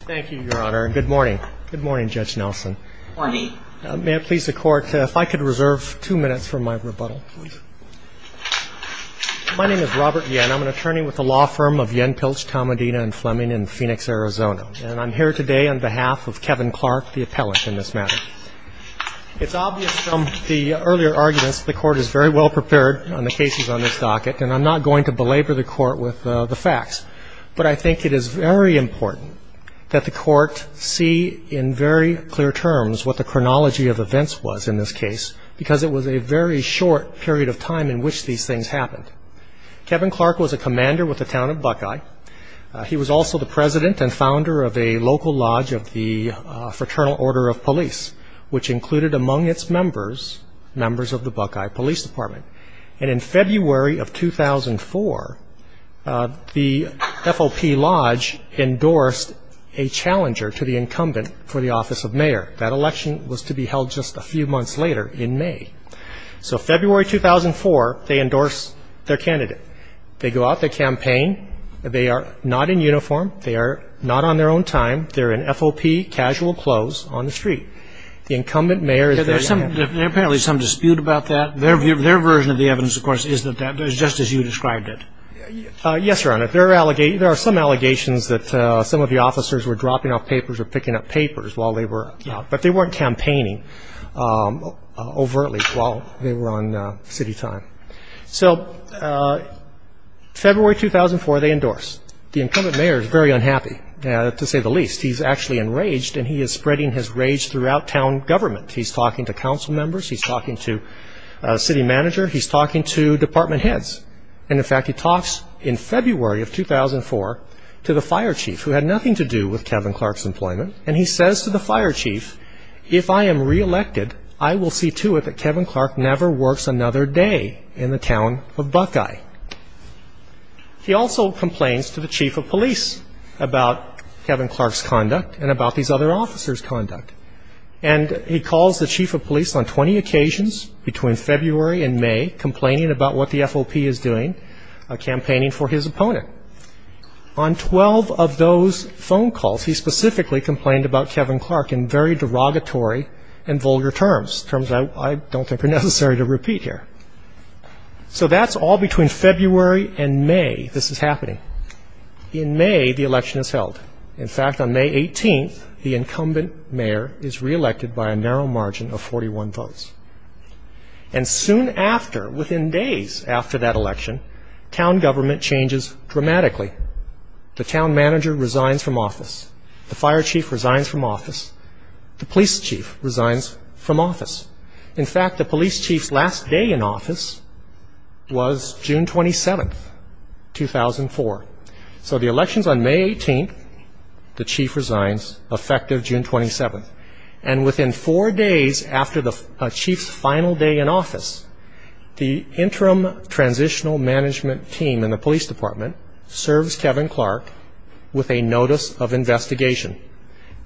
Thank you, Your Honor. Good morning. Good morning, Judge Nelson. Good morning. May it please the Court, if I could reserve two minutes for my rebuttal, please. My name is Robert Yen. I'm an attorney with the law firm of Yen Pilch, Tomadina & Fleming in Phoenix, Arizona. And I'm here today on behalf of Kevin Clark, the appellant in this matter. It's obvious from the earlier arguments the Court is very well prepared on the cases on this docket, and I'm not going to belabor the Court with the facts. But I think it is very important that the Court see in very clear terms what the chronology of events was in this case, because it was a very short period of time in which these things happened. Kevin Clark was a commander with the Town of Buckeye. He was also the president and founder of a local lodge of the Fraternal Order of Police, which included among its members, members of the Buckeye Police Department. And in February of 2004, the FOP Lodge endorsed a challenger to the incumbent for the office of mayor. That election was to be held just a few months later in May. So February 2004, they endorse their candidate. They go out, they campaign. They are not in uniform. They are not on their own time. They're in FOP casual clothes on the street. The incumbent mayor is the young man. Apparently, there's some dispute about that. Their version of the evidence, of course, is that that was just as you described it. Yes, Your Honor. There are some allegations that some of the officers were dropping off papers or picking up papers while they were out. But they weren't campaigning overtly while they were on city time. So February 2004, they endorse. The incumbent mayor is very unhappy, to say the least. He's actually enraged, and he is spreading his rage throughout town government. He's talking to council members. He's talking to city manager. He's talking to department heads. And in fact, he talks in February of 2004 to the fire chief, who had nothing to do with Kevin Clark's employment. And he says to the fire chief, if I am reelected, I will see to it that Kevin Clark never works another day in the town of Buckeye. He also complains to the chief of police about Kevin Clark's conduct and about these other officers' conduct. And he calls the chief of police on 20 occasions between February and May, complaining about what the FOP is doing, campaigning for his opponent. On 12 of those phone calls, he specifically complained about Kevin Clark in very derogatory and vulgar terms, terms I don't think are necessary to repeat here. So that's all between February and May this is happening. In May, the election is held. In fact, on May 18th, the incumbent mayor is reelected by a narrow margin of 41 votes. And soon after, within days after that election, town government changes dramatically. The town manager resigns from office. The fire chief resigns from office. The police chief resigns from office. In fact, the police chief's last day in office was June 27th, 2004. So the election is on May 18th. The chief resigns, effective June 27th. And within four days after the chief's final day in office, the interim transitional management team in the police department serves Kevin Clark with a notice of investigation.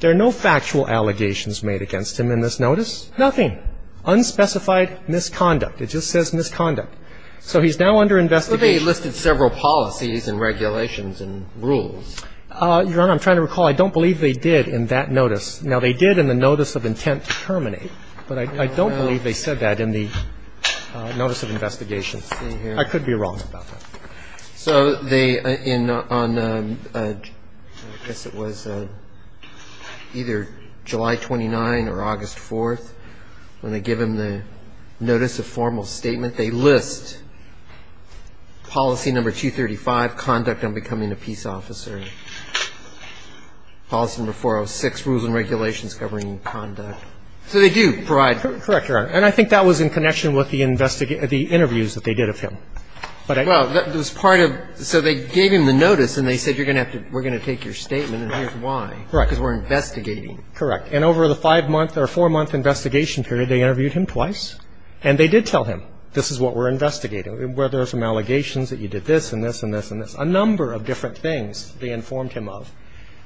There are no factual allegations made against him in this notice. Nothing. Unspecified misconduct. It just says misconduct. So he's now under investigation. And they listed several policies and regulations and rules. Your Honor, I'm trying to recall. I don't believe they did in that notice. Now, they did in the notice of intent to terminate. But I don't believe they said that in the notice of investigation. I could be wrong about that. So they in on I guess it was either July 29 or August 4th, when they give him the notice of formal statement, they list policy number 235, conduct on becoming a peace officer, policy number 406, rules and regulations covering conduct. So they do provide Correct, Your Honor. And I think that was in connection with the interviews that they did of him. Well, that was part of so they gave him the notice and they said you're going to have to we're going to take your statement and here's why. Correct. Because we're investigating. Correct. And over the five-month or four-month investigation period, they interviewed him twice and they did tell him this is what we're investigating, where there are some allegations that you did this and this and this and this, a number of different things they informed him of.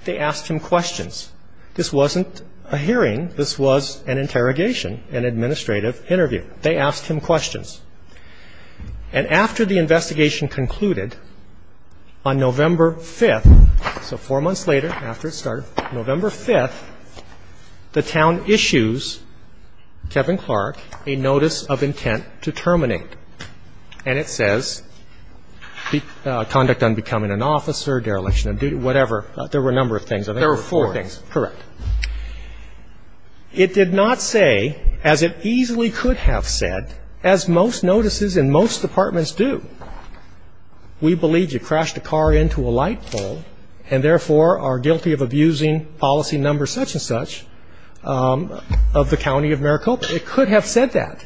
They asked him questions. This wasn't a hearing. This was an interrogation, an administrative interview. They asked him questions. And after the investigation concluded on November 5th, so four months later after it started, November 5th, the town issues Kevin Clark a notice of intent to terminate. And it says conduct on becoming an officer, dereliction of duty, whatever. There were a number of things. I think there were four things. There were four. Correct. It did not say, as it easily could have said, as most notices in most departments do, we believe you crashed a car into a light pole and therefore are guilty of abusing policy numbers such and such of the County of Maricopa. It could have said that.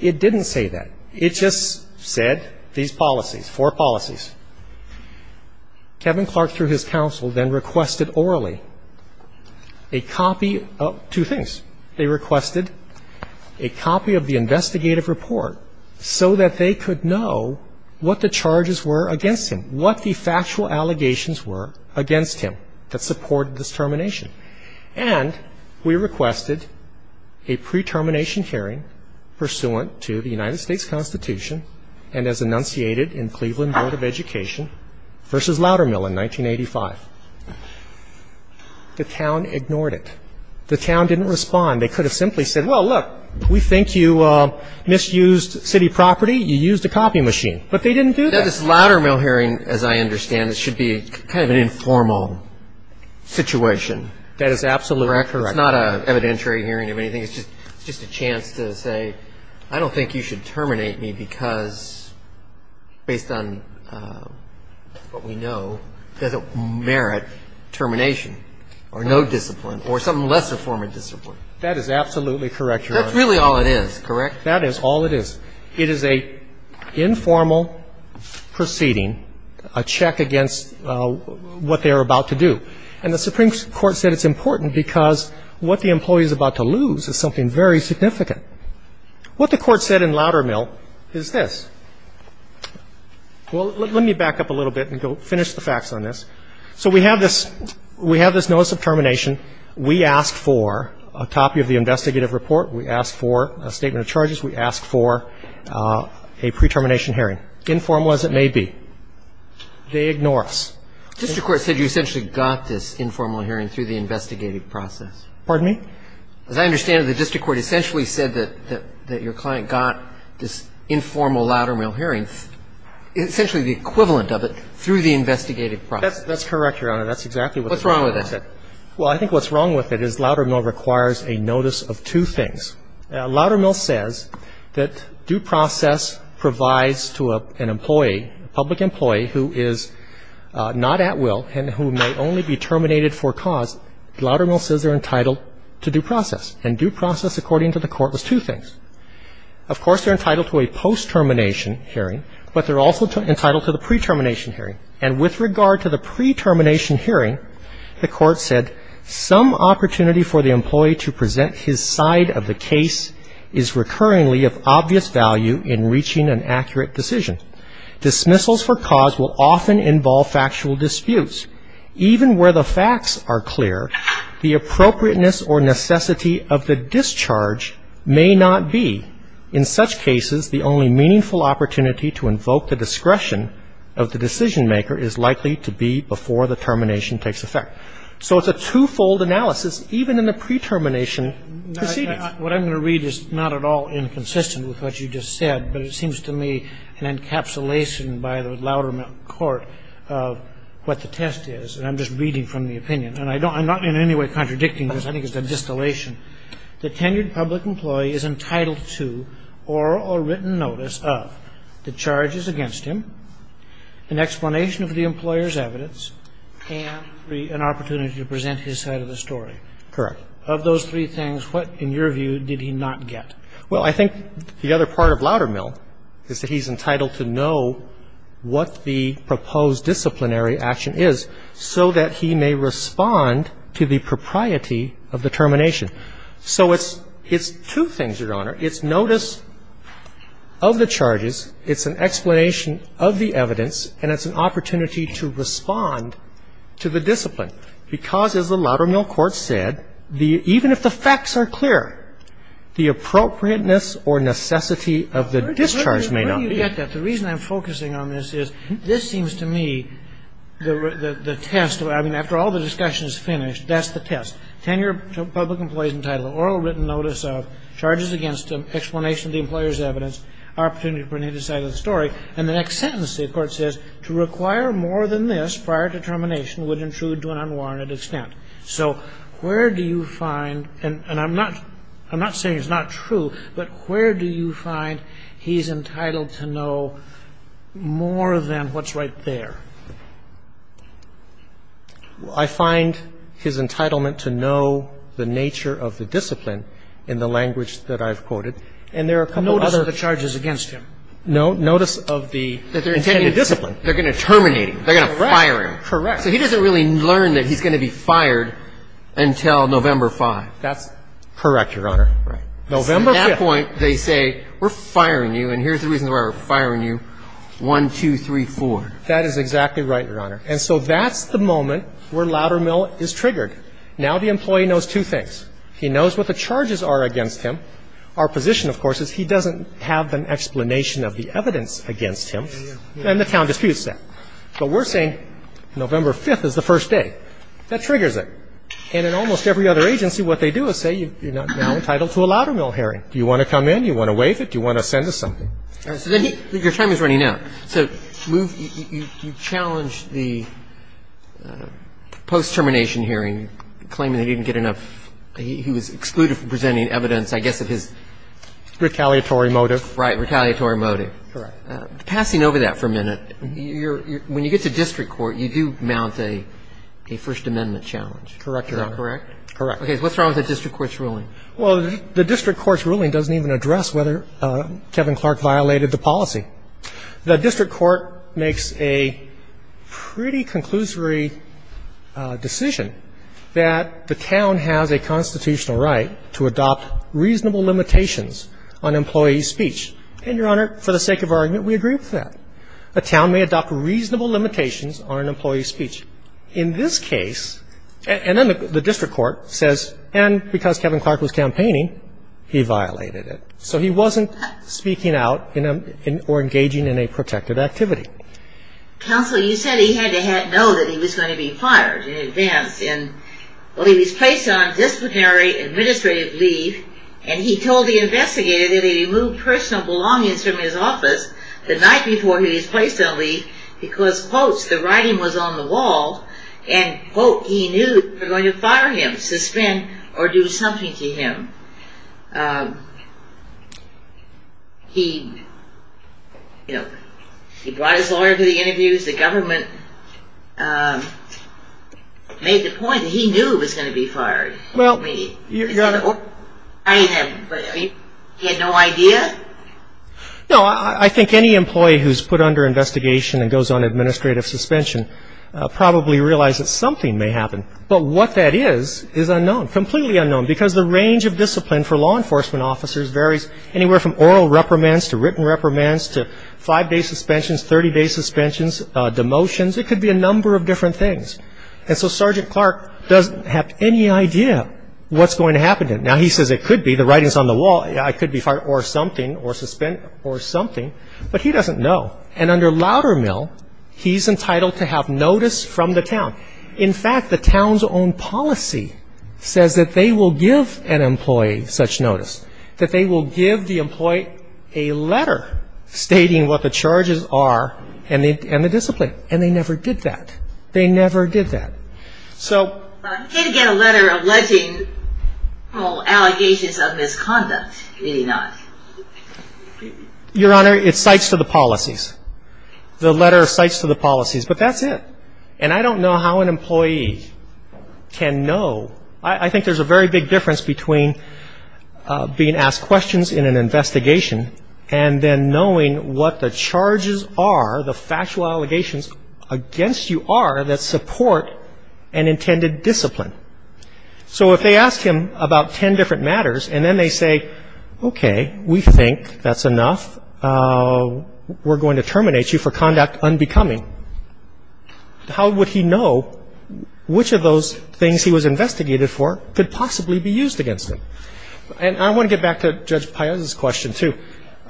It didn't say that. It just said these policies, four policies. Kevin Clark, through his counsel, then requested orally a copy of two things. They requested a copy of the investigative report so that they could know what the charges were against him, what the factual allegations were against him that supported this termination. And we requested a pre-termination hearing pursuant to the United States Constitution and as enunciated in Cleveland Board of Education v. Loudermill in 1985. The town ignored it. The town didn't respond. They could have simply said, well, look, we think you misused city property. You used a copy machine. But they didn't do that. Now, this Loudermill hearing, as I understand, should be kind of an informal situation. That is absolutely correct. It's not an evidentiary hearing of anything. It's just a chance to say, I don't think you should terminate me because, based on what we know, it doesn't merit termination And I'm not going to say that this is a discipline, or no discipline, or some lesser form of discipline. That is absolutely correct, Your Honor. That's really all it is, correct? That is all it is. It is an informal proceeding, a check against what they are about to do. And the Supreme Court said it's important because what the employee is about to lose is something very significant. What the court said in Loudermill is this. Well, let me back up a little bit and finish the facts on this. So we have this notice of termination. We ask for a copy of the investigative report. We ask for a statement of charges. We ask for a pre-termination hearing, informal as it may be. They ignore us. The district court said you essentially got this informal hearing through the investigative process. Pardon me? As I understand it, the district court essentially said that your client got this informal Loudermill hearing, essentially the equivalent of it, through the investigative process. That's correct, Your Honor. That's exactly what the district court said. What's wrong with that? Well, I think what's wrong with it is Loudermill requires a notice of two things. Loudermill says that due process provides to an employee, a public employee, who is not at will and who may only be terminated for cause. Loudermill says they're entitled to due process. And due process, according to the court, was two things. Of course, they're entitled to a post-termination hearing, but they're also entitled to the pre-termination hearing. And with regard to the pre-termination hearing, the court said some opportunity for the employee to present his side of the case is recurringly of obvious value in reaching an accurate decision. Dismissals for cause will often involve factual disputes. Even where the facts are clear, the appropriateness or necessity of the discharge may not be. In such cases, the only meaningful opportunity to invoke the discretion of the decision-maker is likely to be before the termination takes effect. So it's a twofold analysis, even in the pre-termination proceedings. What I'm going to read is not at all inconsistent with what you just said, but it And I'm not in any way contradicting this. I think it's a distillation. The tenured public employee is entitled to oral or written notice of the charges against him, an explanation of the employer's evidence, and an opportunity to present his side of the story. Correct. Of those three things, what, in your view, did he not get? Well, I think the other part of Loudermill is that he's entitled to know what the proposed disciplinary action is. So that he may respond to the propriety of the termination. So it's two things, Your Honor. It's notice of the charges, it's an explanation of the evidence, and it's an opportunity to respond to the discipline. Because, as the Loudermill court said, even if the facts are clear, the appropriateness or necessity of the discharge may not be. Where do you get that? The reason I'm focusing on this is, this seems to me the test. I mean, after all the discussion is finished, that's the test. Tenured public employee is entitled to oral or written notice of charges against him, explanation of the employer's evidence, opportunity to present his side of the story. And the next sentence, the court says, to require more than this prior to termination would intrude to an unwarranted extent. So where do you find, and I'm not saying it's not true, but where do you find he's entitled to know more than what's right there? I find his entitlement to know the nature of the discipline in the language that I've quoted. And there are a couple of other. Notice of the charges against him. No. Notice of the intended discipline. They're going to terminate him. They're going to fire him. Correct. Correct. So he doesn't really learn that he's going to be fired until November 5th. That's correct, Your Honor. November 5th. At that point, they say, we're firing you, and here's the reason why we're firing you, 1, 2, 3, 4. That is exactly right, Your Honor. And so that's the moment where Loudermill is triggered. Now the employee knows two things. He knows what the charges are against him. Our position, of course, is he doesn't have an explanation of the evidence against him. And the town disputes that. But we're saying November 5th is the first day. That triggers it. And in almost every other agency, what they do is say, you're now entitled to a Loudermill hearing. Do you want to come in? Do you want to waive it? Do you want to send us something? Your time is running out. So you challenged the post-termination hearing, claiming that he didn't get enough He was excluded from presenting evidence, I guess, of his Retaliatory motive. Right. Retaliatory motive. Correct. Passing over that for a minute, when you get to district court, you do mount a First Amendment challenge. Correct, Your Honor. Is that correct? Correct. Okay. What's wrong with the district court's ruling? Well, the district court's ruling doesn't even address whether Kevin Clark violated the policy. The district court makes a pretty conclusory decision that the town has a constitutional right to adopt reasonable limitations on employee speech. And, Your Honor, for the sake of argument, we agree with that. A town may adopt reasonable limitations on an employee's speech. In this case, and then the district court says, and because Kevin Clark was campaigning, he violated it. So he wasn't speaking out or engaging in a protective activity. Counsel, you said he had to know that he was going to be fired in advance. Well, he was placed on disciplinary administrative leave, and he told the investigator that he removed personal belongings from his office the night before he was placed on leave because, quote, the writing was on the wall, and, quote, he knew they were going to fire him, suspend, or do something to him. He brought his lawyer to the interviews. The government made the point that he knew he was going to be fired. He had no idea? No, I think any employee who's put under investigation and goes on administrative suspension probably realizes something may happen. But what that is is unknown, completely unknown, because the range of discipline for law enforcement officers varies anywhere from oral reprimands to written reprimands to five-day suspensions, 30-day suspensions, demotions. It could be a number of different things. And so Sergeant Clark doesn't have any idea what's going to happen to him. Now, he says it could be the writing's on the wall, I could be fired or something or suspended or something, but he doesn't know. And under Loudermill, he's entitled to have notice from the town. In fact, the town's own policy says that they will give an employee such notice, that they will give the employee a letter stating what the charges are and the discipline. And they never did that. They never did that. So... He did get a letter alleging allegations of misconduct, did he not? Your Honor, it cites to the policies. The letter cites to the policies. But that's it. And I don't know how an employee can know. I think there's a very big difference between being asked questions in an investigation and then knowing what the charges are, the factual allegations against you are that support an intended discipline. So if they ask him about ten different matters, and then they say, okay, we think that's enough. We're going to terminate you for conduct unbecoming. How would he know which of those things he was investigated for could possibly be used against him? And I want to get back to Judge Piazza's question, too.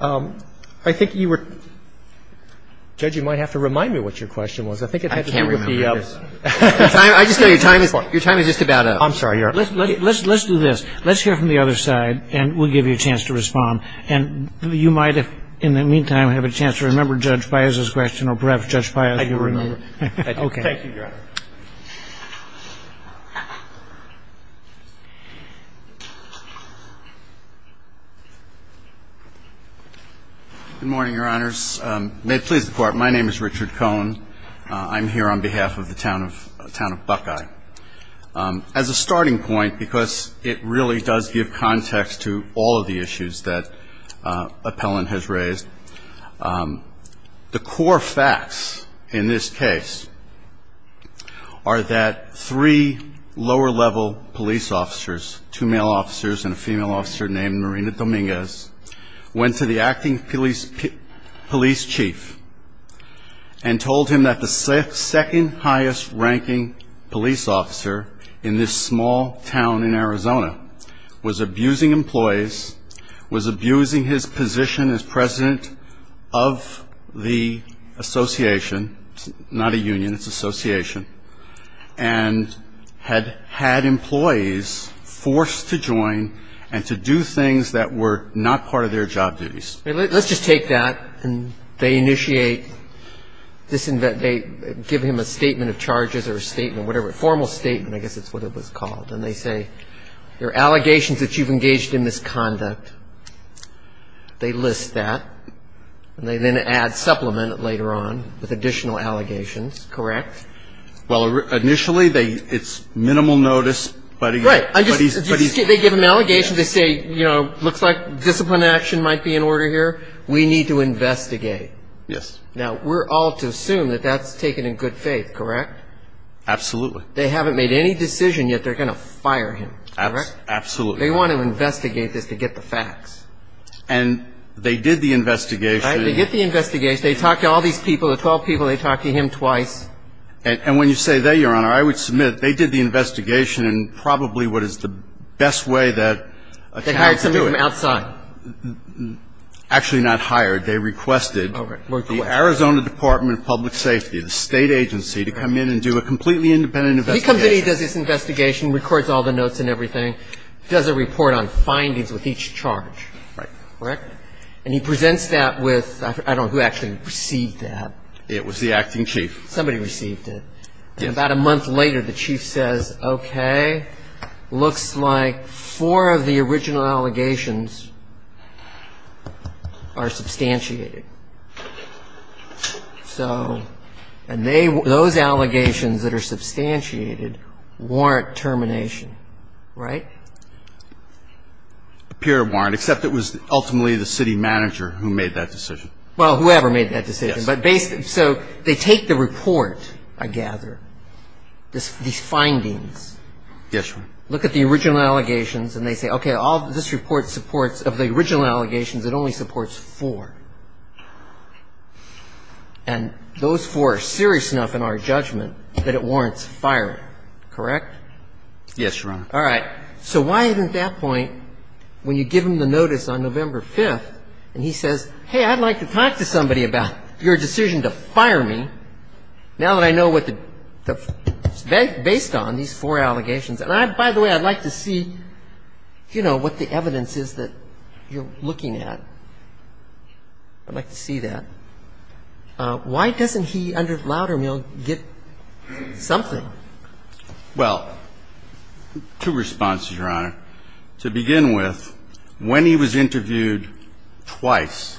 I think you were... Judge, you might have to remind me what your question was. I think it had to do with the... I can't remember. I just know your time is just about up. I'm sorry. Let's do this. Let's hear from the other side, and we'll give you a chance to respond. And you might, in the meantime, have a chance to remember Judge Piazza's question, or perhaps Judge Piazza will remember. I do remember. Okay. Thank you, Your Honor. Good morning, Your Honors. May it please the Court. My name is Richard Cohen. I'm here on behalf of the Town of Buckeye. As a starting point, because it really does give context to all of the issues that Appellant has raised, the core facts in this case are that three lower-level police officers, two male officers and a female officer named Marina Dominguez, went to the acting police chief and told him that the second-highest-ranking police officer in this small town in Arizona was abusing employees, was abusing his position as president of the association. It's not a union. It's an association. And had employees forced to join and to do things that were not part of their job duties. Let's just take that. And they initiate, they give him a statement of charges or a statement, whatever, a formal statement, I guess that's what it was called. And they say, there are allegations that you've engaged in misconduct. They list that. And they then add supplement later on with additional allegations, correct? Well, initially, it's minimal notice. Right. They give him allegations. They say, you know, looks like discipline action might be in order here. We need to investigate. Yes. Now, we're all to assume that that's taken in good faith, correct? Absolutely. They haven't made any decision yet they're going to fire him, correct? Absolutely. They want to investigate this to get the facts. And they did the investigation. They did the investigation. They talked to all these people, the 12 people, they talked to him twice. And when you say they, Your Honor, I would submit they did the investigation in probably what is the best way that a county could do it. They hired somebody from outside. Actually not hired. They requested the Arizona Department of Public Safety, the State Agency, to come in and do a completely independent investigation. He comes in, he does this investigation, records all the notes and everything, does a report on findings with each charge. Right. Correct? And he presents that with, I don't know who actually received that. It was the acting chief. Somebody received it. And about a month later the chief says, Okay, looks like four of the original allegations are substantiated. So, and they, those allegations that are substantiated warrant termination. Right? Appear to warrant, except it was ultimately the city manager who made that decision. Well, whoever made that decision. Yes. So they take the report, I gather, these findings. Yes, Your Honor. Look at the original allegations and they say, Okay, all this report supports, of the original allegations it only supports four. And those four are serious enough in our judgment that it warrants firing. Correct? Yes, Your Honor. All right. So why isn't that point when you give him the notice on November 5th and he says, Hey, I'd like to talk to somebody about your decision to fire me now that I know what the, based on these four allegations. And I, by the way, I'd like to see, you know, what the evidence is that you're looking at. I'd like to see that. Why doesn't he, under Loudermill, get something? Well, two responses, Your Honor. To begin with, when he was interviewed twice,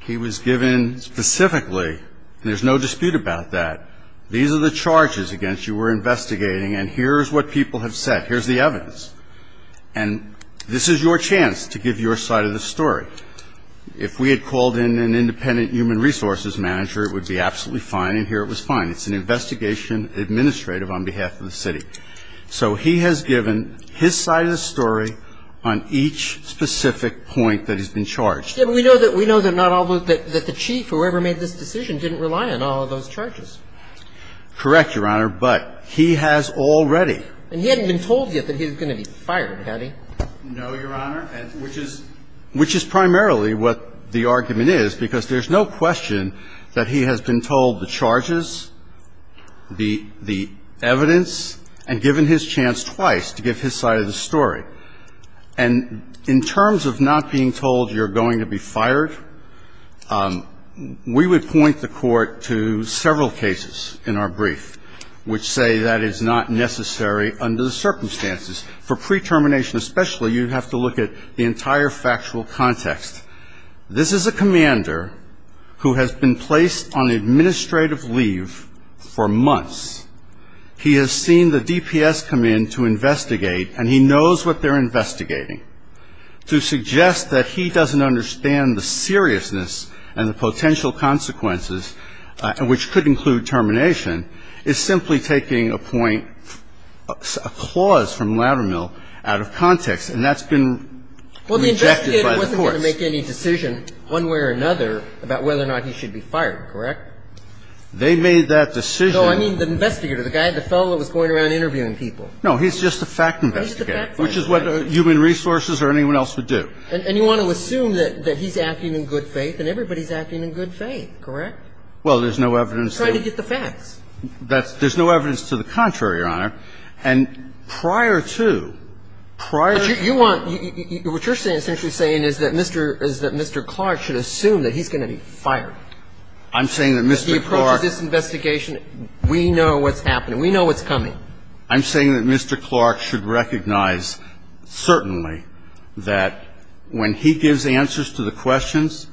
he was given specifically, and there's no dispute about that, these are the charges against you we're investigating and here's what people have said. Here's the evidence. And this is your chance to give your side of the story. If we had called in an independent human resources manager, it would be absolutely fine and here it was fine. It's an investigation administrative on behalf of the city. So he has given his side of the story on each specific point that he's been charged. We know that the chief, whoever made this decision, didn't rely on all of those charges. Correct, Your Honor, but he has already. And he hadn't been told yet that he was going to be fired, had he? No, Your Honor. Which is primarily what the argument is because there's no question that he has been told the charges, the evidence, and given his chance twice to give his side of the story. And in terms of not being told you're going to be fired, we would point the court to several cases in our brief which say that is not necessary under the circumstances. For pre-termination especially, you'd have to look at the entire factual context. This is a commander who has been placed on administrative leave for months. He has seen the DPS come in to investigate and he knows what they're investigating. To suggest that he doesn't understand the seriousness and the potential consequences, which could include termination, is simply taking a point, a clause from Loudermill out of context and that's been rejected by the courts. But the judge has not made any decision one way or another about whether or not he should be fired. Correct? They made that decision. No, I mean the investigator, the guy, the fellow that was going around interviewing people. No, he's just the fact investigator. He's just the fact investigator. Which is what human resources or anyone else would do. And you want to assume that he's acting in good faith and everybody's acting in good faith. Correct? Well, there's no evidence to the contrary, Your Honor. And prior to, prior to I'm saying that Mr. Clark should assume that he's going to be fired. I'm saying that Mr. Clark If he approaches this investigation, we know what's happening. We know what's coming. I'm saying that Mr. Clark should recognize, certainly, that when he gives answers to the questions,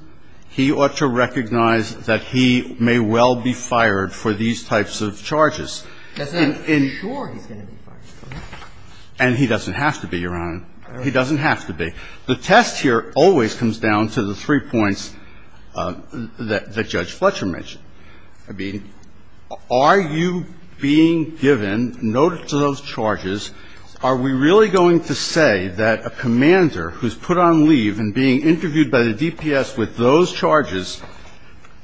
he ought to recognize that he may well be fired for these types of charges. Doesn't that ensure he's going to be fired? And he doesn't have to be, Your Honor. He doesn't have to be. The test here always comes down to the three points that Judge Fletcher mentioned. I mean, are you being given notice of those charges? Are we really going to say that a commander who's put on leave and being interviewed by the DPS with those charges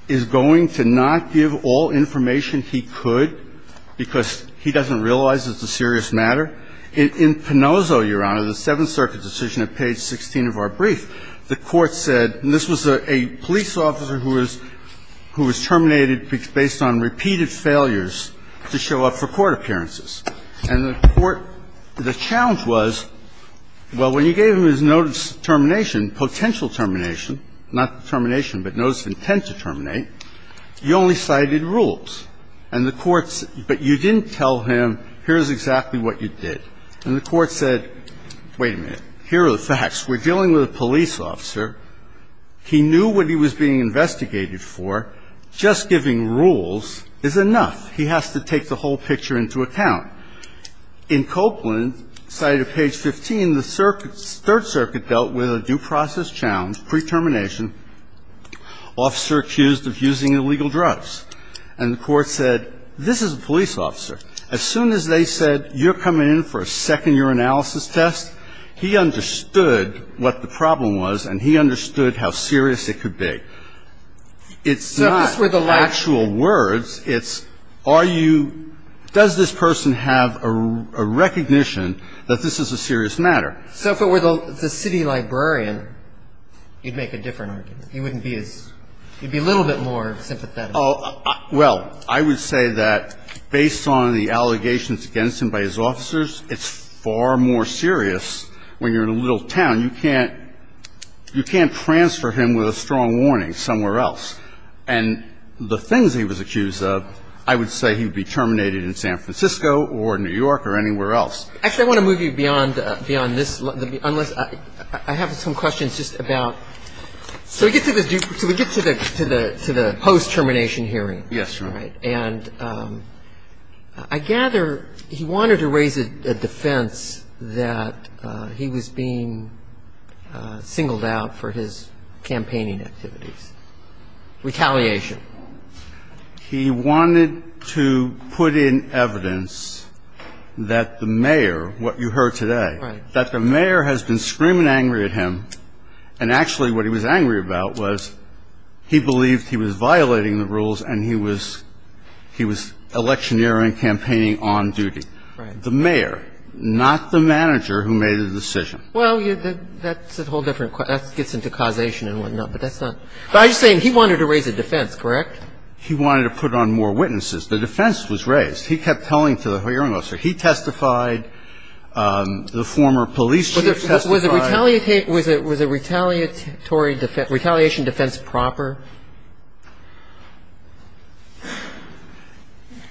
is going to not give all information he could because he doesn't realize it's a serious matter? In Pinozzo, Your Honor, the Seventh Circuit decision at page 16 of our brief, the Court said, and this was a police officer who was terminated based on repeated failures to show up for court appearances. And the Court, the challenge was, well, when you gave him his notice of termination, potential termination, not the termination, but notice of intent to terminate, you only cited rules. And the Court, but you didn't tell him, here's exactly what you did. And the Court said, wait a minute, here are the facts. We're dealing with a police officer. He knew what he was being investigated for. Just giving rules is enough. He has to take the whole picture into account. In Copeland, cited at page 15, the Third Circuit dealt with a due process challenge, pre-termination, officer accused of using illegal drugs. And the Court said, this is a police officer. As soon as they said, you're coming in for a second year analysis test, he understood what the problem was and he understood how serious it could be. It's not actual words. It's are you, does this person have a recognition that this is a serious matter? So if it were the city librarian, you'd make a different argument. You wouldn't be as, you'd be a little bit more sympathetic. Well, I would say that based on the allegations against him by his officers, it's far more serious when you're in a little town. You can't transfer him with a strong warning somewhere else. And the things he was accused of, I would say he would be terminated in San Francisco or New York or anywhere else. Actually, I want to move you beyond this, unless, I have some questions just about So we get to the post-termination hearing. Yes, Your Honor. And I gather he wanted to raise a defense that he was being singled out for his campaigning activities. Retaliation. He wanted to put in evidence that the mayor, what you heard today, that the mayor has been screaming angry at him. And actually what he was angry about was he believed he was violating the rules and he was electioneering, campaigning on duty. Right. The mayor, not the manager who made the decision. Well, that's a whole different question. That gets into causation and whatnot, but that's not. But I'm just saying he wanted to raise a defense, correct? He wanted to put on more witnesses. The defense was raised. He kept telling to the hearing officer. He testified. The former police chief testified. Was it retaliatory defense, retaliation defense proper?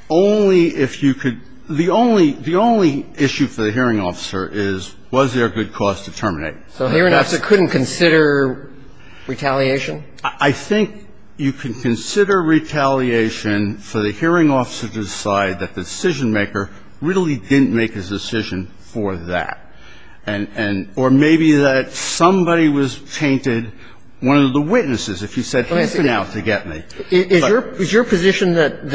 Only if you could, the only issue for the hearing officer is was there a good cause to terminate. So hearing officer couldn't consider retaliation? I think you can consider retaliation for the hearing officer to decide that the decision maker really didn't make his decision for that. Or maybe that somebody was tainted, one of the witnesses, if you said he's been out to get me. Is your position that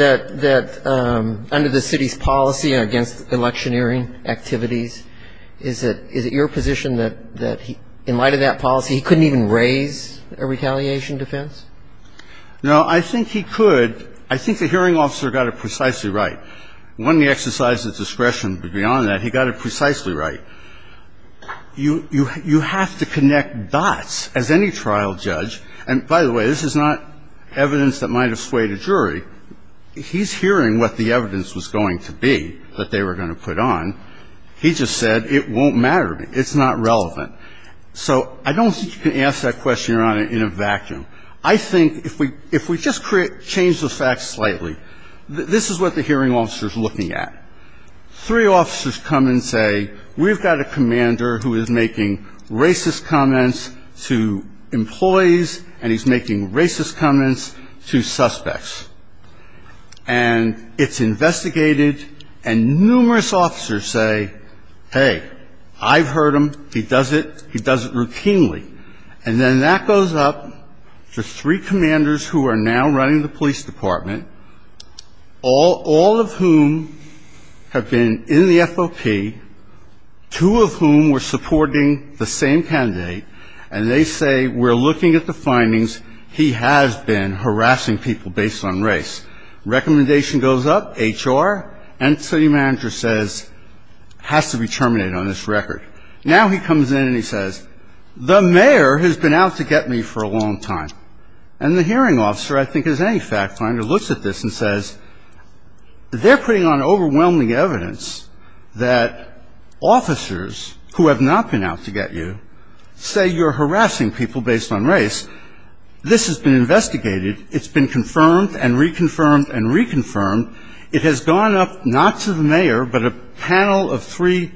under the city's policy against electioneering activities, is it your position that in light of that policy he couldn't even raise a retaliation defense? No, I think he could. I think the hearing officer got it precisely right. One of the exercises of discretion beyond that, he got it precisely right. You have to connect dots as any trial judge. And by the way, this is not evidence that might have swayed a jury. He's hearing what the evidence was going to be that they were going to put on. He just said it won't matter to me. It's not relevant. So I don't think you can ask that question, Your Honor, in a vacuum. I think if we just change the facts slightly, this is what the hearing officer is looking at. Three officers come and say, we've got a commander who is making racist comments to employees, and he's making racist comments to suspects. And it's investigated, and numerous officers say, hey, I've heard him. He does it. He does it routinely. And then that goes up to three commanders who are now running the police department, all of whom have been in the FOP, two of whom were supporting the same candidate, and they say, we're looking at the findings. He has been harassing people based on race. Recommendation goes up, HR, and city manager says, has to be terminated on this record. Now he comes in and he says, the mayor has been out to get me for a long time. And the hearing officer, I think as any fact finder, looks at this and says, they're putting on overwhelming evidence that officers who have not been out to get you say you're harassing people based on race. This has been investigated. It's been confirmed and reconfirmed and reconfirmed. It has gone up not to the mayor, but a panel of three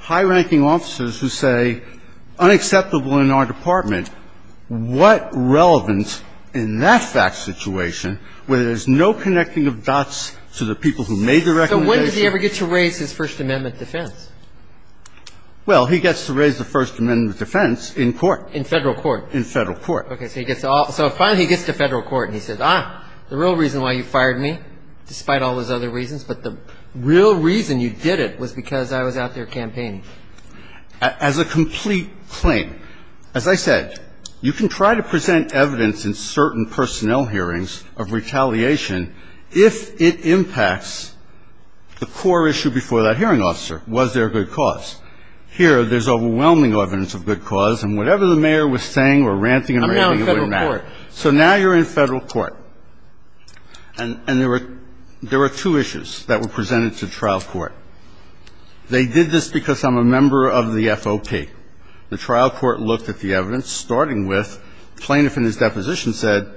high-ranking officers who say, unacceptable in our department. What relevance in that fact situation where there's no connecting of dots to the people who made the recommendation? So when does he ever get to raise his First Amendment defense? Well, he gets to raise the First Amendment defense in court. In federal court? In federal court. Okay. So he gets to all, so finally he gets to federal court and he says, ah, the real reason why you fired me, despite all those other reasons, but the real reason you did it was because I was out there campaigning. As a complete claim. As I said, you can try to present evidence in certain personnel hearings of retaliation if it impacts the core issue before that hearing officer, was there a good cause. Here there's overwhelming evidence of good cause and whatever the mayor was saying or ranting and raving, it wouldn't matter. I'm now in federal court. And there were two issues that were presented to trial court. They did this because I'm a member of the FOP. The trial court looked at the evidence, starting with plaintiff in his deposition said,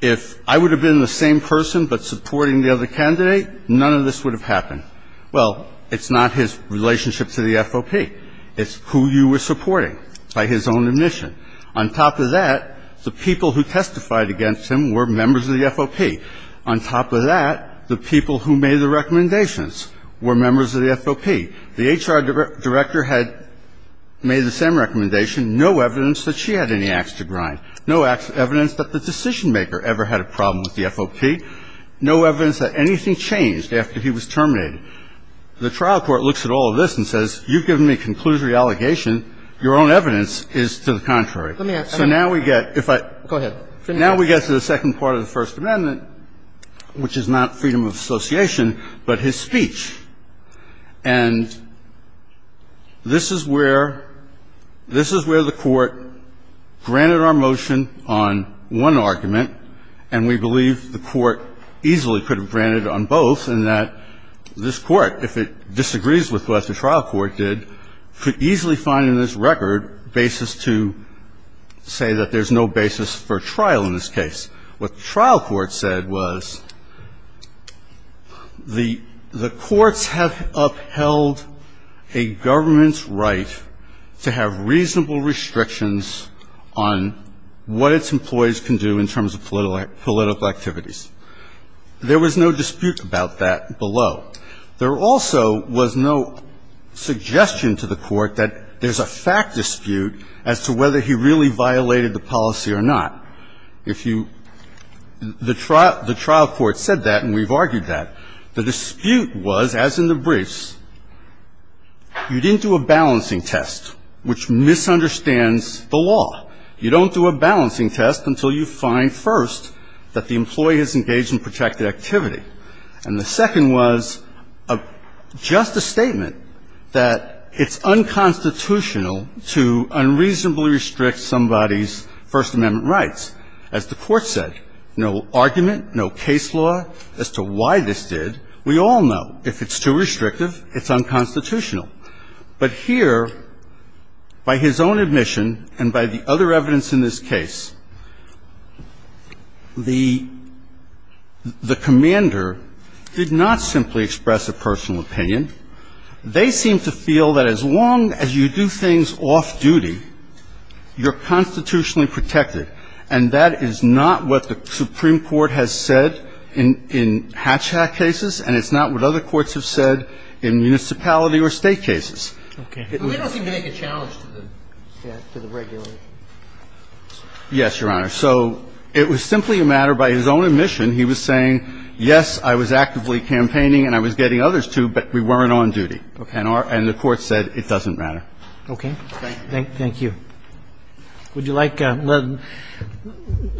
if I would have been the same person but supporting the other candidate, none of this would have happened. Well, it's not his relationship to the FOP. It's who you were supporting by his own admission. On top of that, the people who testified against him were members of the FOP. On top of that, the people who made the recommendations were members of the FOP. The HR director had made the same recommendation. No evidence that she had any ax to grind. No evidence that the decision maker ever had a problem with the FOP. No evidence that anything changed after he was terminated. The trial court looks at all of this and says, you've given me a conclusory allegation. Your own evidence is to the contrary. So now we get to the second part of the First Amendment, which is not freedom of association, but his speech. And this is where the court granted our motion on one argument. And we believe the court easily could have granted it on both in that this court, if it disagrees with what the trial court did, could easily find in this record basis to say that there's no basis for trial in this case. What the trial court said was the courts have upheld a government's right to have reasonable restrictions on what its employees can do in terms of political activities. There was no dispute about that below. There also was no suggestion to the court that there's a fact dispute as to whether he really violated the policy or not. The trial court said that, and we've argued that. The dispute was, as in the briefs, you didn't do a balancing test, which misunderstands the law. You don't do a balancing test until you find, first, that the employee is engaged in protected activity. And the second was just a statement that it's unconstitutional to unreasonably restrict somebody's First Amendment rights. As the court said, no argument, no case law as to why this did. We all know if it's too restrictive, it's unconstitutional. But here, by his own admission and by the other evidence in this case, the commander did not simply express a personal opinion. They seemed to feel that as long as you do things off-duty, you're constitutionally protected. And that is not what the Supreme Court has said in Hatch Act cases, and it's not what other courts have said in municipality or state cases. Okay. But they don't seem to make a challenge to the regulation. Yes, Your Honor. So it was simply a matter, by his own admission, he was saying, yes, I was actively campaigning and I was getting others to, but we weren't on duty. Okay. And the court said it doesn't matter. Okay. Thank you. Thank you. Would you like, we'll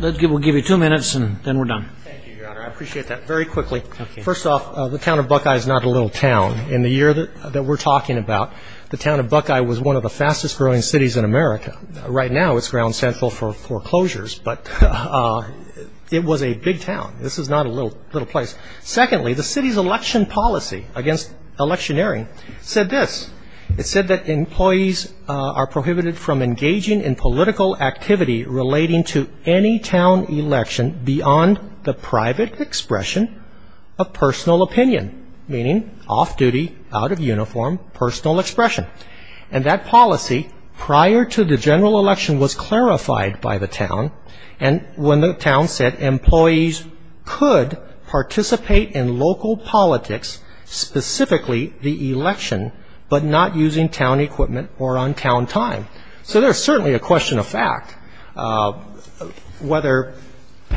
give you two minutes and then we're done. Thank you, Your Honor. I appreciate that. Very quickly. Okay. First off, the town of Buckeye is not a little town. In the year that we're talking about, the town of Buckeye was one of the fastest-growing cities in America. Right now, it's ground central for foreclosures, but it was a big town. This is not a little place. Secondly, the city's election policy against electioneering said this. It said that employees are prohibited from engaging in political activity relating to any town election beyond the private expression of personal opinion, meaning off-duty, out-of-uniform personal expression. And that policy, prior to the general election, was clarified by the town. And when the town said employees could participate in local politics, specifically the election, but not using town equipment or on town time. So there's certainly a question of fact whether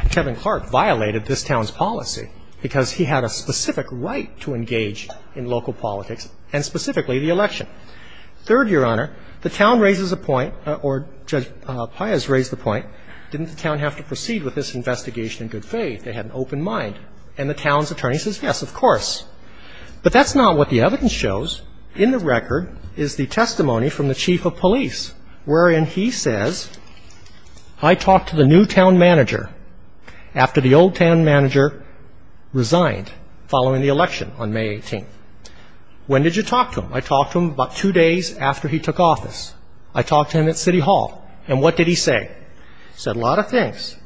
Kevin Clark violated this town's policy because he had a specific right to engage in local politics and specifically the election. Third, Your Honor, the town raises a point, or Judge Pius raised the point, didn't the town have to proceed with this investigation in good faith? They had an open mind. And the town's attorney says, yes, of course. But that's not what the evidence shows. In the record is the testimony from the chief of police, wherein he says, I talked to the new town manager after the old town manager resigned following the election on May 18th. When did you talk to him? I talked to him about two days after he took office. I talked to him at city hall. And what did he say? He said a lot of things.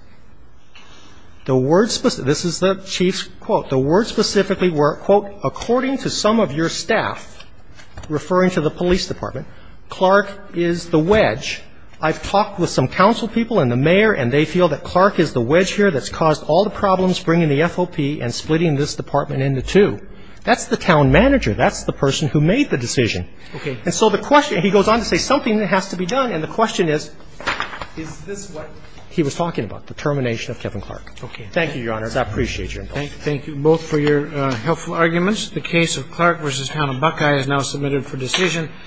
The words, this is the chief's quote, the words specifically were, quote, according to some of your staff, referring to the police department, Clark is the wedge. I've talked with some council people and the mayor, and they feel that Clark is the wedge here that's caused all the problems bringing the FOP and splitting this department into two. That's the town manager. That's the person who made the decision. Okay. And so the question, he goes on to say something has to be done. And the question is, is this what he was talking about, the termination of Kevin Clark? Okay. Thank you, Your Honors. I appreciate your involvement. Thank you both for your helpful arguments. The case of Clark v. Town of Buckeye is now submitted for decision.